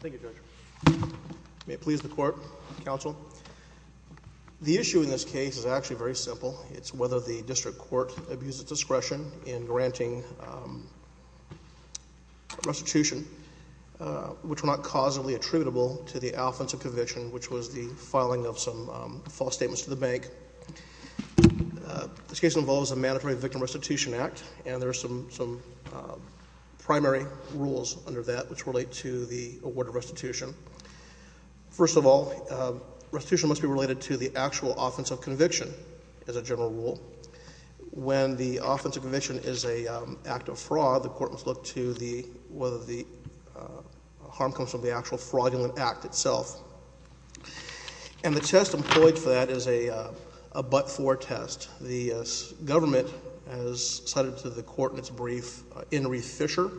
Thank you, Judge. May it please the Court, Counsel. The issue in this case is actually very simple. It's whether the district court abuses discretion in granting restitution, which were not causally attributable to the offensive conviction, which was the filing of some false statements to the bank. This case involves a mandatory victim restitution act, and there are some primary rules under that which relate to the award of restitution. First of all, restitution must be related to the actual offensive conviction as a general rule. When the offensive conviction is an act of fraud, the court must look to whether the harm comes from the actual fraudulent act itself. And the test employed for that is a but-for test. The government has cited to the Court in its brief, Inree Fisher,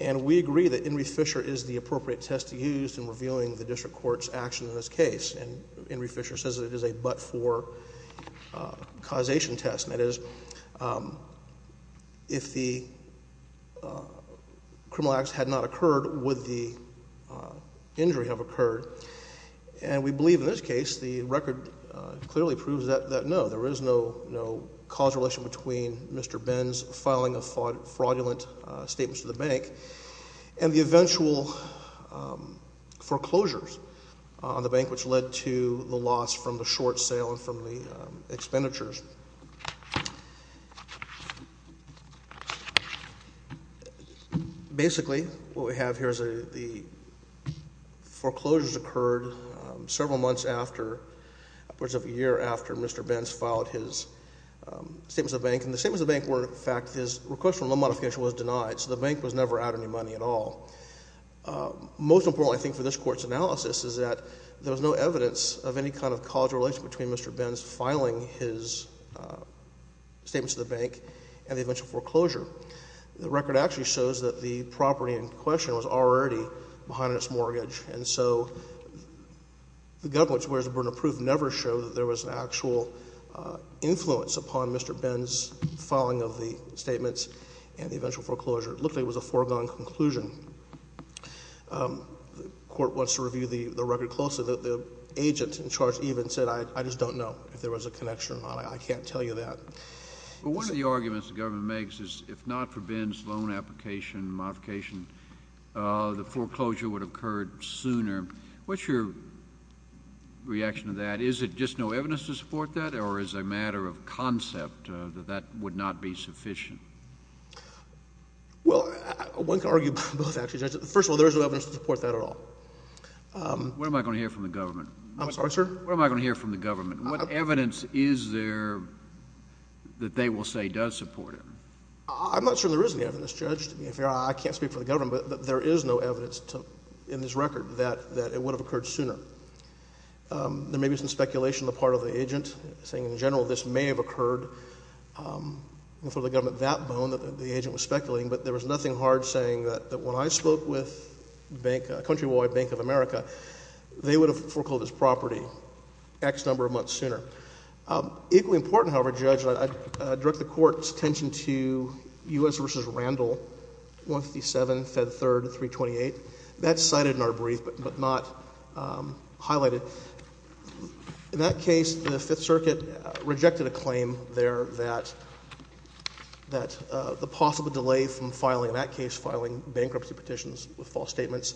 and we agree that Inree Fisher is the appropriate test to use in revealing the district court's action in this case. And Inree Fisher says that it is a but-for causation test. That is, if the criminal act had not occurred, would the injury have occurred? And we believe in this case the record clearly proves that no, there is no cause relation between Mr. Benz filing of fraudulent statements to the bank and the eventual foreclosures on the bank, which led to the loss from the short sale and from the expenditures. Basically, what we have here is the foreclosures occurred several months after, upwards of a year after Mr. Benz filed his statements to the bank. And the statements to the bank were, in fact, his request for loan modification was denied, so the bank was never out any money at all. Most importantly, I think, for this Court's analysis is that there was no evidence of any kind of cause relation between Mr. Benz filing his statements to the bank and the eventual foreclosure. The record actually shows that the property in question was already behind its mortgage, and so the government's whereabouts never showed that there was an actual influence upon Mr. Benz's filing of the statements and the eventual foreclosure. It looked like it was a foregone conclusion. The Court wants to review the record closely. The agent in charge even said, I just don't know if there was a connection or not. I can't tell you that. One of the arguments the government makes is if not for Benz's loan application and modification, the foreclosure would have occurred sooner. What's your reaction to that? Is it just no evidence to support that, or is it a matter of concept that that would not be sufficient? Well, one can argue both, actually. First of all, there is no evidence to support that at all. What am I going to hear from the government? I'm sorry, sir? What am I going to hear from the government? What evidence is there that they will say does support it? I'm not sure there is any evidence, Judge, to be fair. I can't speak for the government, but there is no evidence in this record that it would have occurred sooner. There may be some speculation on the part of the agent, saying in general this may have occurred for the government that bone that the agent was speculating, but there was nothing hard saying that when I spoke with Countrywide Bank of America, they would have foreclosed this property X number of months sooner. Equally important, however, Judge, I direct the Court's attention to U.S. v. Randall, 157, Fed 3rd, 328. That's cited in our brief, but not highlighted. In that case, the Fifth Circuit rejected a claim there that the possible delay from filing, in that case filing bankruptcy petitions with false statements,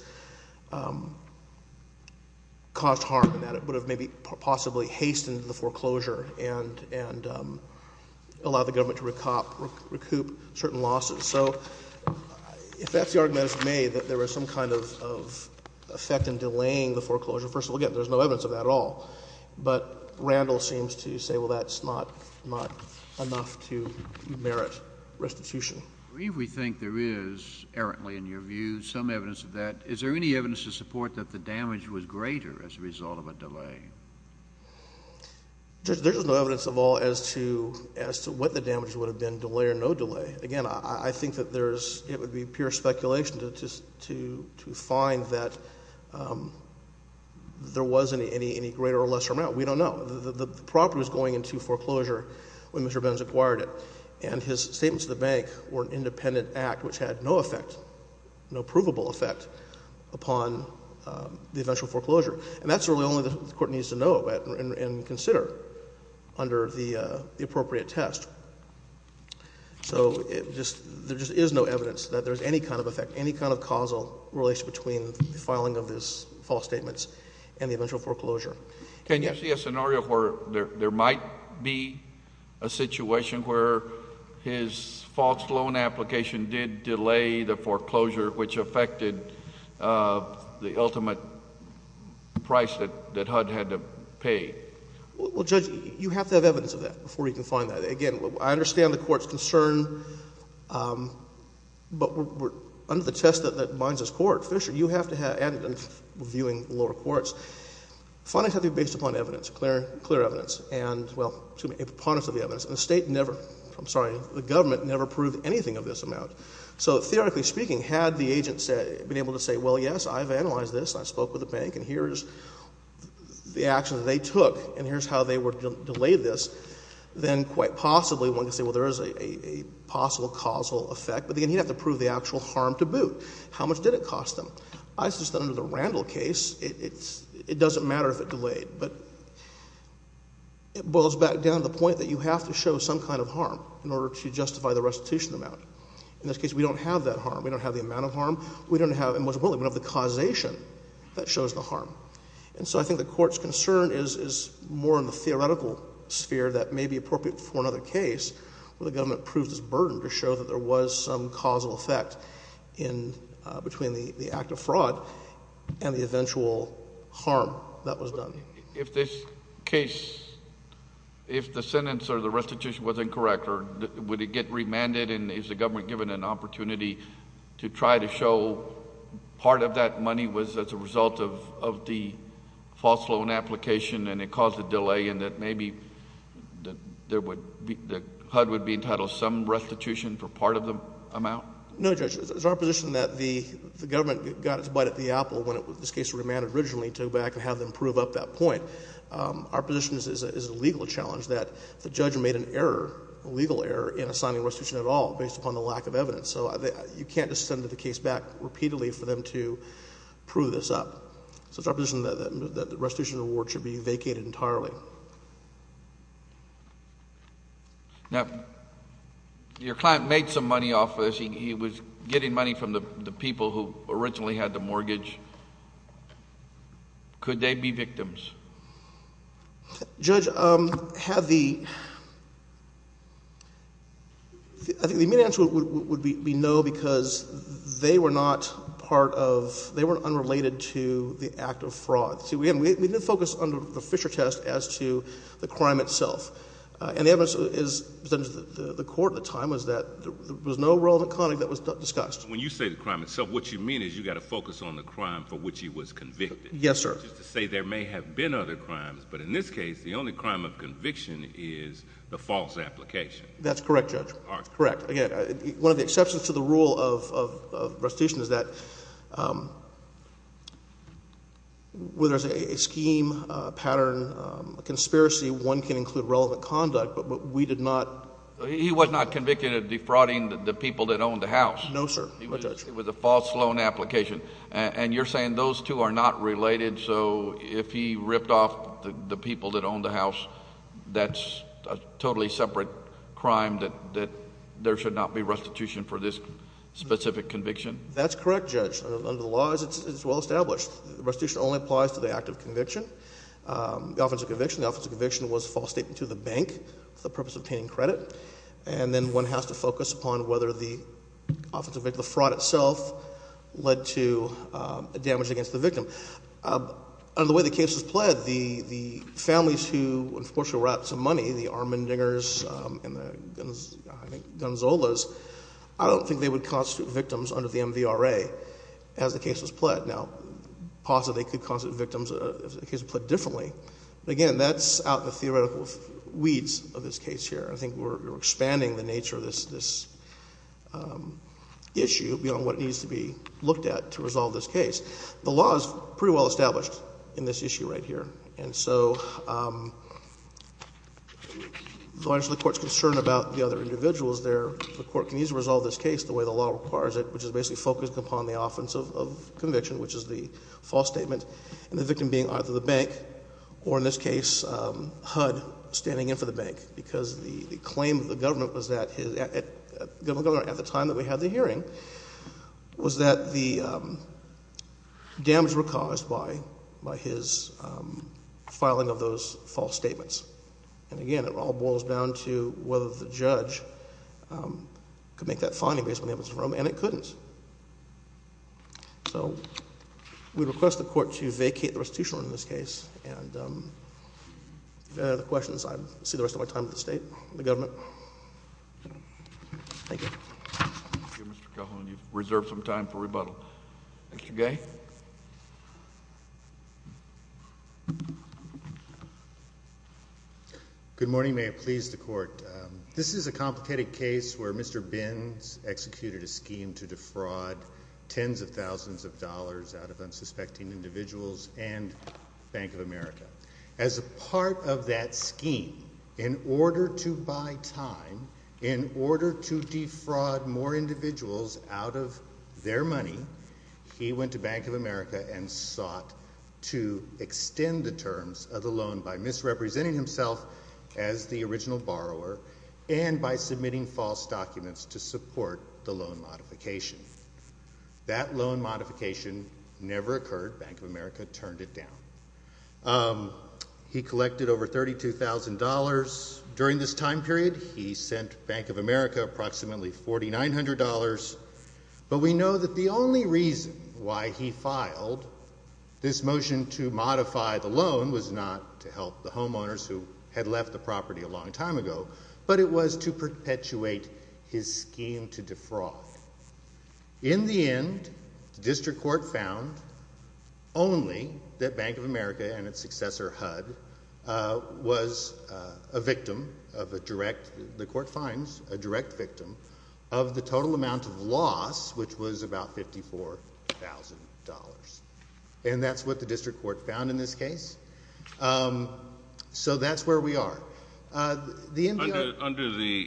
caused harm in that. It would have maybe possibly hastened the foreclosure and allowed the government to recoup certain losses. So if that's the argument that's made, that there was some kind of effect in delaying the foreclosure, first of all, again, there's no evidence of that at all. But Randall seems to say, well, that's not enough to merit restitution. I believe we think there is, errantly in your view, some evidence of that. Is there any evidence to support that the damage was greater as a result of a delay? There's no evidence at all as to what the damage would have been, delay or no delay. Again, I think that there's, it would be pure speculation to find that there was any greater or lesser amount. We don't know. The property was going into foreclosure when Mr. Benz acquired it. And his statements to the bank were an independent act which had no effect, no provable effect, upon the eventual foreclosure. And that's really only the Court needs to know about and consider under the appropriate test. So there just is no evidence that there's any kind of effect, any kind of causal relation between the filing of his false statements and the eventual foreclosure. Can you see a scenario where there might be a situation where his false loan application did delay the foreclosure which affected the ultimate price that HUD had to pay? Well, Judge, you have to have evidence of that before you can find that. Again, I understand the Court's concern. But under the test that binds this Court, Fisher, you have to have evidence reviewing lower courts. Findings have to be based upon evidence, clear evidence. And, well, a preponderance of the evidence. And the State never, I'm sorry, the government never proved anything of this amount. So theoretically speaking, had the agent been able to say, well, yes, I've analyzed this, I spoke with the bank, and here's the action that they took, and here's how they delayed this, then quite possibly one could say, well, there is a possible causal effect. But, again, he'd have to prove the actual harm to boot. How much did it cost them? I suggest that under the Randall case, it doesn't matter if it delayed. But it boils back down to the point that you have to show some kind of harm in order to justify the restitution amount. In this case, we don't have that harm. We don't have the amount of harm. We don't have, and most importantly, we don't have the causation that shows the harm. And so I think the Court's concern is more in the theoretical sphere that may be appropriate for another case where the government proves this burden to show that there was some causal effect in, between the act of fraud and the eventual harm that was done. If this case, if the sentence or the restitution was incorrect, or would it get remanded, and is the government given an opportunity to try to show part of that money was as a result of the false loan application and it caused a delay and that maybe the HUD would be entitled to some restitution for part of the amount? No, Judge. It's our position that the government got its butt at the apple when this case was remanded originally to have them prove up that point. Our position is it's a legal challenge that the judge made an error, a legal error, in assigning restitution at all based upon the lack of evidence. So you can't just send the case back repeatedly for them to prove this up. So it's our position that the restitution award should be vacated entirely. Now, your client made some money off of this. He was getting money from the people who originally had the mortgage. Could they be victims? Judge, I think the immediate answer would be no because they were not part of, they weren't unrelated to the act of fraud. Again, we didn't focus under the Fisher test as to the crime itself. And the evidence presented to the court at the time was that there was no relevant content that was discussed. Judge, when you say the crime itself, what you mean is you've got to focus on the crime for which he was convicted. Yes, sir. Which is to say there may have been other crimes, but in this case, the only crime of conviction is the false application. That's correct, Judge. Correct. Again, one of the exceptions to the rule of restitution is that when there's a scheme, a pattern, a conspiracy, one can include relevant conduct, but we did not. He was not convicted of defrauding the people that owned the house. No, sir. It was a false loan application. And you're saying those two are not related, so if he ripped off the people that owned the house, that's a totally separate crime that there should not be restitution for this specific conviction? That's correct, Judge. Under the law, it's well established. Restitution only applies to the act of conviction, the offense of conviction. The offense of conviction was a false statement to the bank for the purpose of obtaining credit. And then one has to focus upon whether the offense of conviction, the fraud itself, led to damage against the victim. Under the way the case was pled, the families who, unfortunately, were out of some money, the Armendingers and the Gonzolas, I don't think they would constitute victims under the MVRA as the case was pled. Now, possibly they could constitute victims if the case was pled differently. But again, that's out in the theoretical weeds of this case here. I think we're expanding the nature of this issue beyond what needs to be looked at to resolve this case. The law is pretty well established in this issue right here. And so, largely the court's concerned about the other individuals there. The court needs to resolve this case the way the law requires it, which is basically focused upon the offense of conviction, which is the false statement. And the victim being either the bank, or in this case, HUD, standing in for the bank. Because the claim of the government was that, at the time that we had the hearing, was that the damage was caused by his filing of those false statements. And again, it all boils down to whether the judge could make that finding based on the evidence in the room, and it couldn't. So, we request the court to vacate the restitution order in this case. And if you have any other questions, I'll see the rest of my time at the state, the government. Thank you. Thank you, Mr. Coughlin. You've reserved some time for rebuttal. Mr. Gay? Good morning. May it please the court. This is a complicated case where Mr. Binns executed a scheme to defraud tens of thousands of dollars out of unsuspecting individuals and Bank of America. As a part of that scheme, in order to buy time, in order to defraud more individuals out of their money, he went to Bank of America and sought to extend the terms of the loan by misrepresenting himself as the original borrower and by submitting false documents to support the loan modification. That loan modification never occurred. Bank of America turned it down. He collected over $32,000 during this time period. He sent Bank of America approximately $4,900. But we know that the only reason why he filed this motion to modify the loan was not to help the homeowners who had left the property a long time ago, but it was to perpetuate his scheme to defraud. In the end, the district court found only that Bank of America and its successor, HUD, was a victim of a direct, the court finds, a direct victim of the total amount of loss, which was about $54,000. And that's what the district court found in this case. So that's where we are. Under the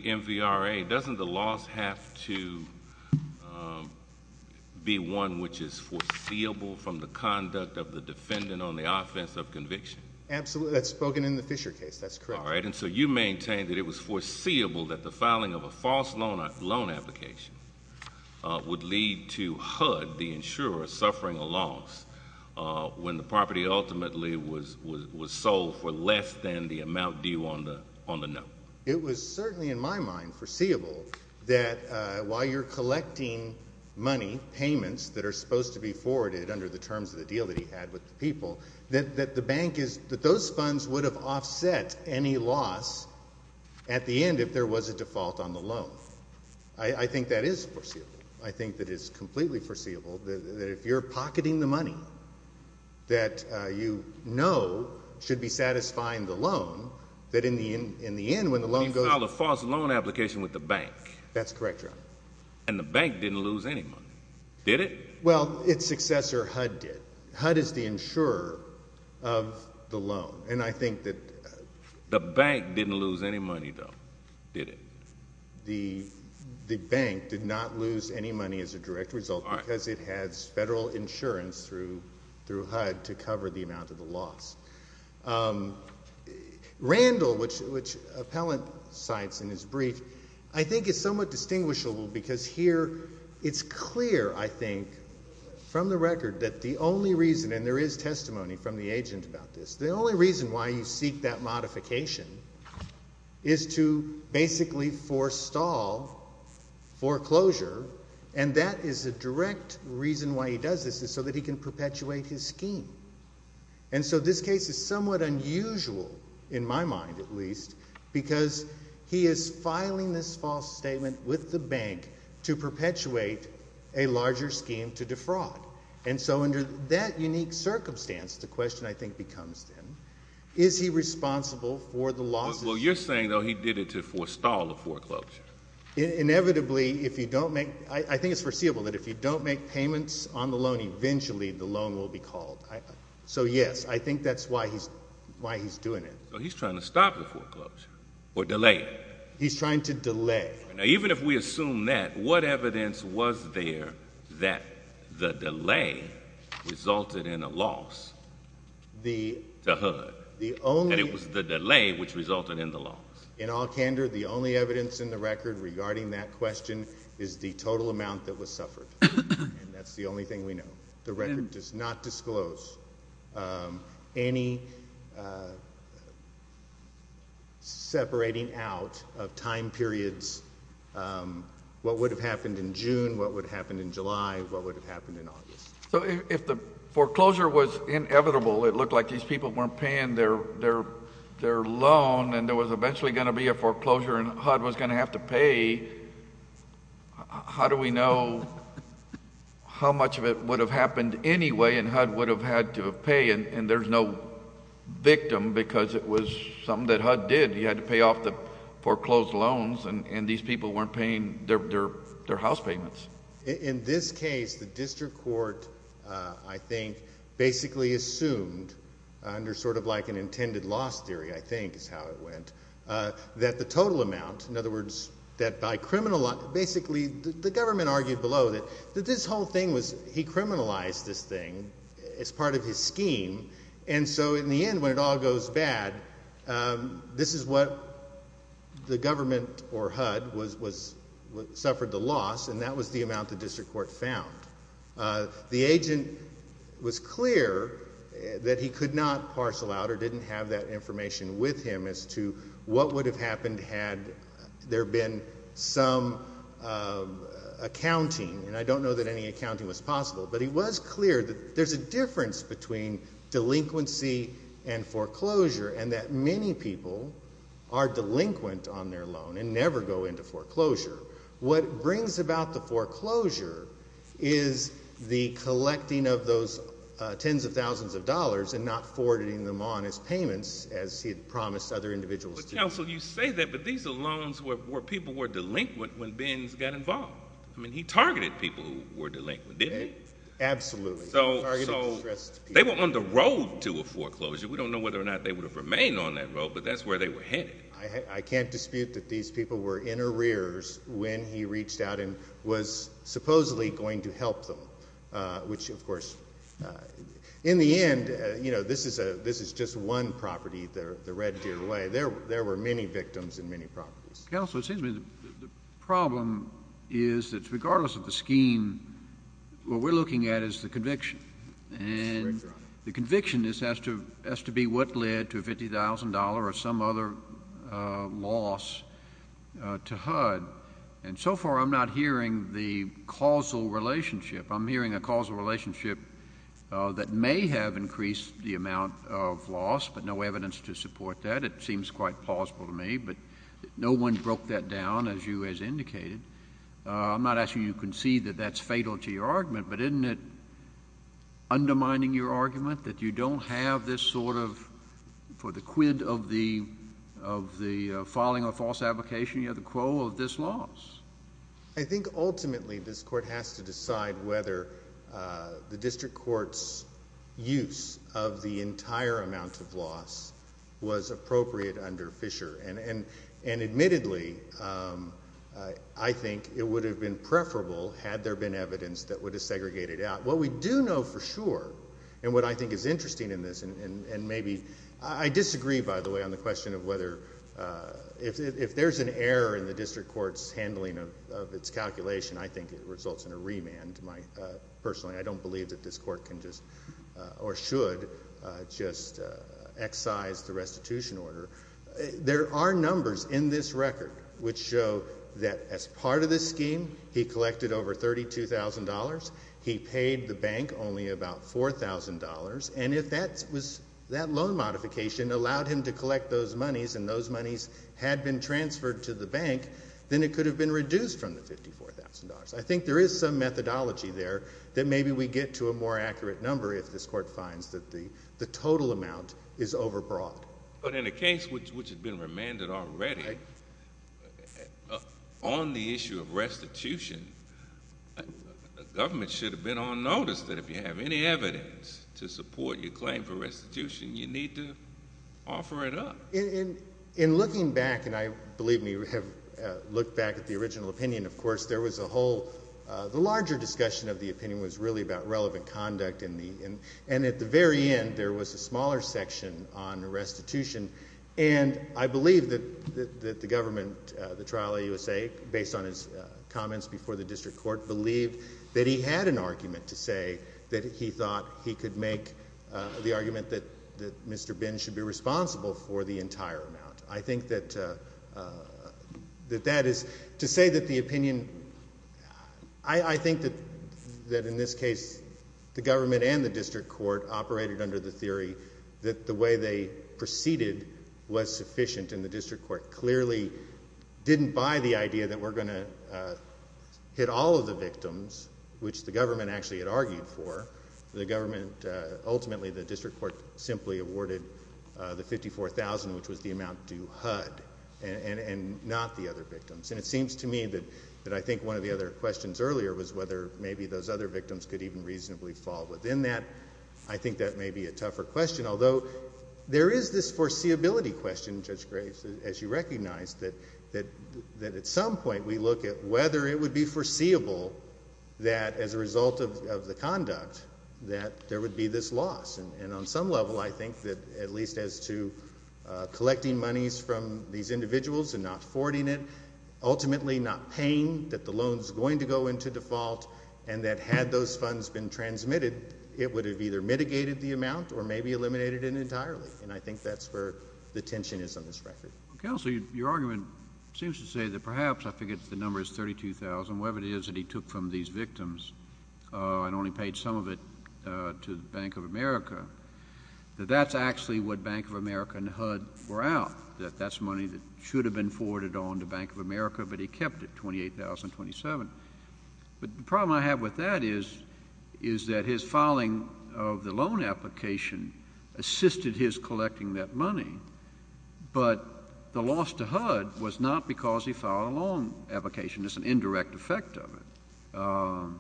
MVRA, doesn't the loss have to be one which is foreseeable from the conduct of the defendant on the offense of conviction? Absolutely. That's spoken in the Fisher case. That's correct. All right. And so you maintain that it was foreseeable that the filing of a false loan application would lead to HUD, the insurer, suffering a loss when the property ultimately was sold for less than the amount due on the note. It was certainly in my mind foreseeable that while you're collecting money, payments that are supposed to be forwarded under the terms of the deal that he had with the people, that the bank is, that those funds would have offset any loss at the end if there was a default on the loan. I think that is foreseeable. I think that is completely foreseeable, that if you're pocketing the money that you know should be satisfying the loan, that in the end, when the loan goes up — You filed a false loan application with the bank. That's correct, Your Honor. And the bank didn't lose any money, did it? Well, its successor, HUD, did. HUD is the insurer of the loan. And I think that — The bank didn't lose any money, though, did it? The bank did not lose any money as a direct result because it has federal insurance through HUD to cover the amount of the loss. Randall, which Appellant cites in his brief, I think is somewhat distinguishable because here it's clear, I think, from the record that the only reason, and there is testimony from the agent about this, the only reason why you seek that modification is to basically forestall foreclosure, and that is a direct reason why he does this is so that he can perpetuate his scheme. And so this case is somewhat unusual, in my mind at least, because he is filing this false statement with the bank to perpetuate a larger scheme to defraud. And so under that unique circumstance, the question, I think, becomes then, is he responsible for the losses? Well, you're saying, though, he did it to forestall the foreclosure. Inevitably, if you don't make — I think it's foreseeable that if you don't make payments on the loan, eventually the loan will be called. So, yes, I think that's why he's doing it. So he's trying to stop the foreclosure or delay it. He's trying to delay. Now, even if we assume that, what evidence was there that the delay resulted in a loss to HUD, and it was the delay which resulted in the loss? In all candor, the only evidence in the record regarding that question is the total amount that was suffered, and that's the only thing we know. The record does not disclose any separating out of time periods what would have happened in June, what would have happened in July, what would have happened in August. So if the foreclosure was inevitable, it looked like these people weren't paying their loan, and there was eventually going to be a foreclosure, and HUD was going to have to pay, how do we know how much of it would have happened anyway, and HUD would have had to pay, and there's no victim because it was something that HUD did. He had to pay off the foreclosed loans, and these people weren't paying their house payments. In this case, the district court, I think, basically assumed under sort of like an intended loss theory, I think is how it went, that the total amount, in other words, that by criminalizing, basically the government argued below that this whole thing was, he criminalized this thing as part of his scheme, and so in the end when it all goes bad, this is what the government or HUD suffered the loss, and that was the amount the district court found. The agent was clear that he could not parcel out or didn't have that information with him as to what would have happened had there been some accounting, and I don't know that any accounting was possible, but he was clear that there's a difference between delinquency and foreclosure, and that many people are delinquent on their loan and never go into foreclosure. What brings about the foreclosure is the collecting of those tens of thousands of dollars and not forwarding them on as payments as he had promised other individuals to do. But, counsel, you say that, but these are loans where people were delinquent when Benz got involved. I mean, he targeted people who were delinquent, didn't he? Absolutely. So they were on the road to a foreclosure. We don't know whether or not they would have remained on that road, but that's where they were headed. I can't dispute that these people were in arrears when he reached out and was supposedly going to help them, which, of course, in the end, you know, this is just one property, the Red Deer Way. There were many victims in many properties. Counsel, it seems to me the problem is that regardless of the scheme, what we're looking at is the conviction. And the conviction has to be what led to a $50,000 or some other loss to HUD. And so far I'm not hearing the causal relationship. I'm hearing a causal relationship that may have increased the amount of loss, but no evidence to support that. It seems quite plausible to me, but no one broke that down, as you as indicated. I'm not asking you to concede that that's fatal to your argument, but isn't it undermining your argument that you don't have this sort of for the quid of the filing of a false application, you have the quo of this loss? I think ultimately this court has to decide whether the district court's use of the entire amount of loss was appropriate under Fisher. And admittedly, I think it would have been preferable had there been evidence that would have segregated out. What we do know for sure, and what I think is interesting in this, and maybe I disagree, by the way, on the question of whether if there's an error in the district court's handling of its calculation, I think it results in a remand. Personally, I don't believe that this court can just or should just excise the restitution order. There are numbers in this record which show that as part of this scheme, he collected over $32,000. He paid the bank only about $4,000. And if that loan modification allowed him to collect those monies and those monies had been transferred to the bank, then it could have been reduced from the $54,000. I think there is some methodology there that maybe we get to a more accurate number if this court finds that the total amount is overbroad. But in a case which had been remanded already, on the issue of restitution, the government should have been on notice that if you have any evidence to support your claim for restitution, you need to offer it up. In looking back, and I believe we have looked back at the original opinion, of course, there was a whole larger discussion of the opinion was really about relevant conduct. And at the very end, there was a smaller section on restitution. And I believe that the government, the trial of USAID, based on his comments before the district court, believed that he had an argument to say that he thought he could make the argument that Mr. Bin should be responsible for the entire amount. I think that that is to say that the opinion, I think that in this case, the government and the district court operated under the theory that the way they proceeded was sufficient. And the district court clearly didn't buy the idea that we're going to hit all of the victims, which the government actually had argued for. The government, ultimately, the district court simply awarded the $54,000, which was the amount due HUD, and not the other victims. And it seems to me that I think one of the other questions earlier was whether maybe those other victims could even reasonably fall within that. I think that may be a tougher question. Although, there is this foreseeability question, Judge Graves, as you recognize, that at some point we look at whether it would be foreseeable that as a result of the conduct that there would be this loss. And on some level, I think that at least as to collecting monies from these individuals and not forwarding it, ultimately not paying, that the loan is going to go into default, and that had those funds been transmitted, it would have either mitigated the amount or maybe eliminated it entirely. And I think that's where the tension is on this record. Counselor, your argument seems to say that perhaps, I forget if the number is $32,000, whatever it is that he took from these victims and only paid some of it to the Bank of America, that that's actually what Bank of America and HUD were out, that that's money that should have been forwarded on to Bank of America, but he kept it, $28,027. But the problem I have with that is that his filing of the loan application assisted his collecting that money, but the loss to HUD was not because he filed a loan application. It's an indirect effect of it.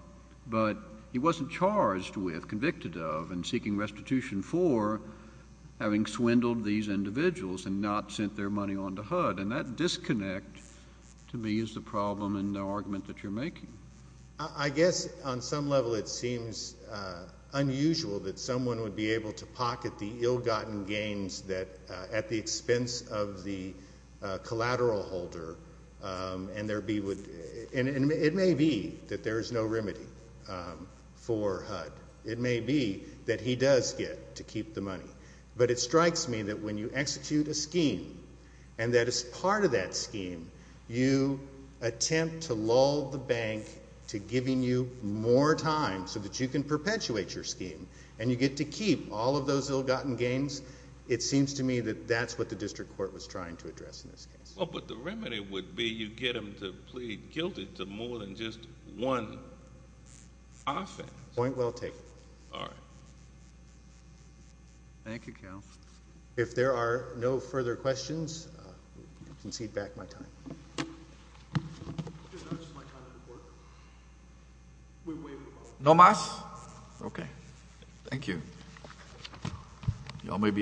But he wasn't charged with, convicted of, and seeking restitution for having swindled these individuals and not sent their money on to HUD. And that disconnect to me is the problem in the argument that you're making. I guess on some level it seems unusual that someone would be able to pocket the ill-gotten gains that, at the expense of the collateral holder, and there be, and it may be that there is no remedy for HUD. It may be that he does get to keep the money. But it strikes me that when you execute a scheme, and that as part of that scheme, you attempt to lull the bank to giving you more time so that you can perpetuate your scheme, and you get to keep all of those ill-gotten gains. It seems to me that that's what the district court was trying to address in this case. Well, but the remedy would be you get them to plead guilty to more than just one offense. Point well taken. All right. Thank you, Counsel. If there are no further questions, we can concede back my time. No more? Okay. Thank you. You all may be excused.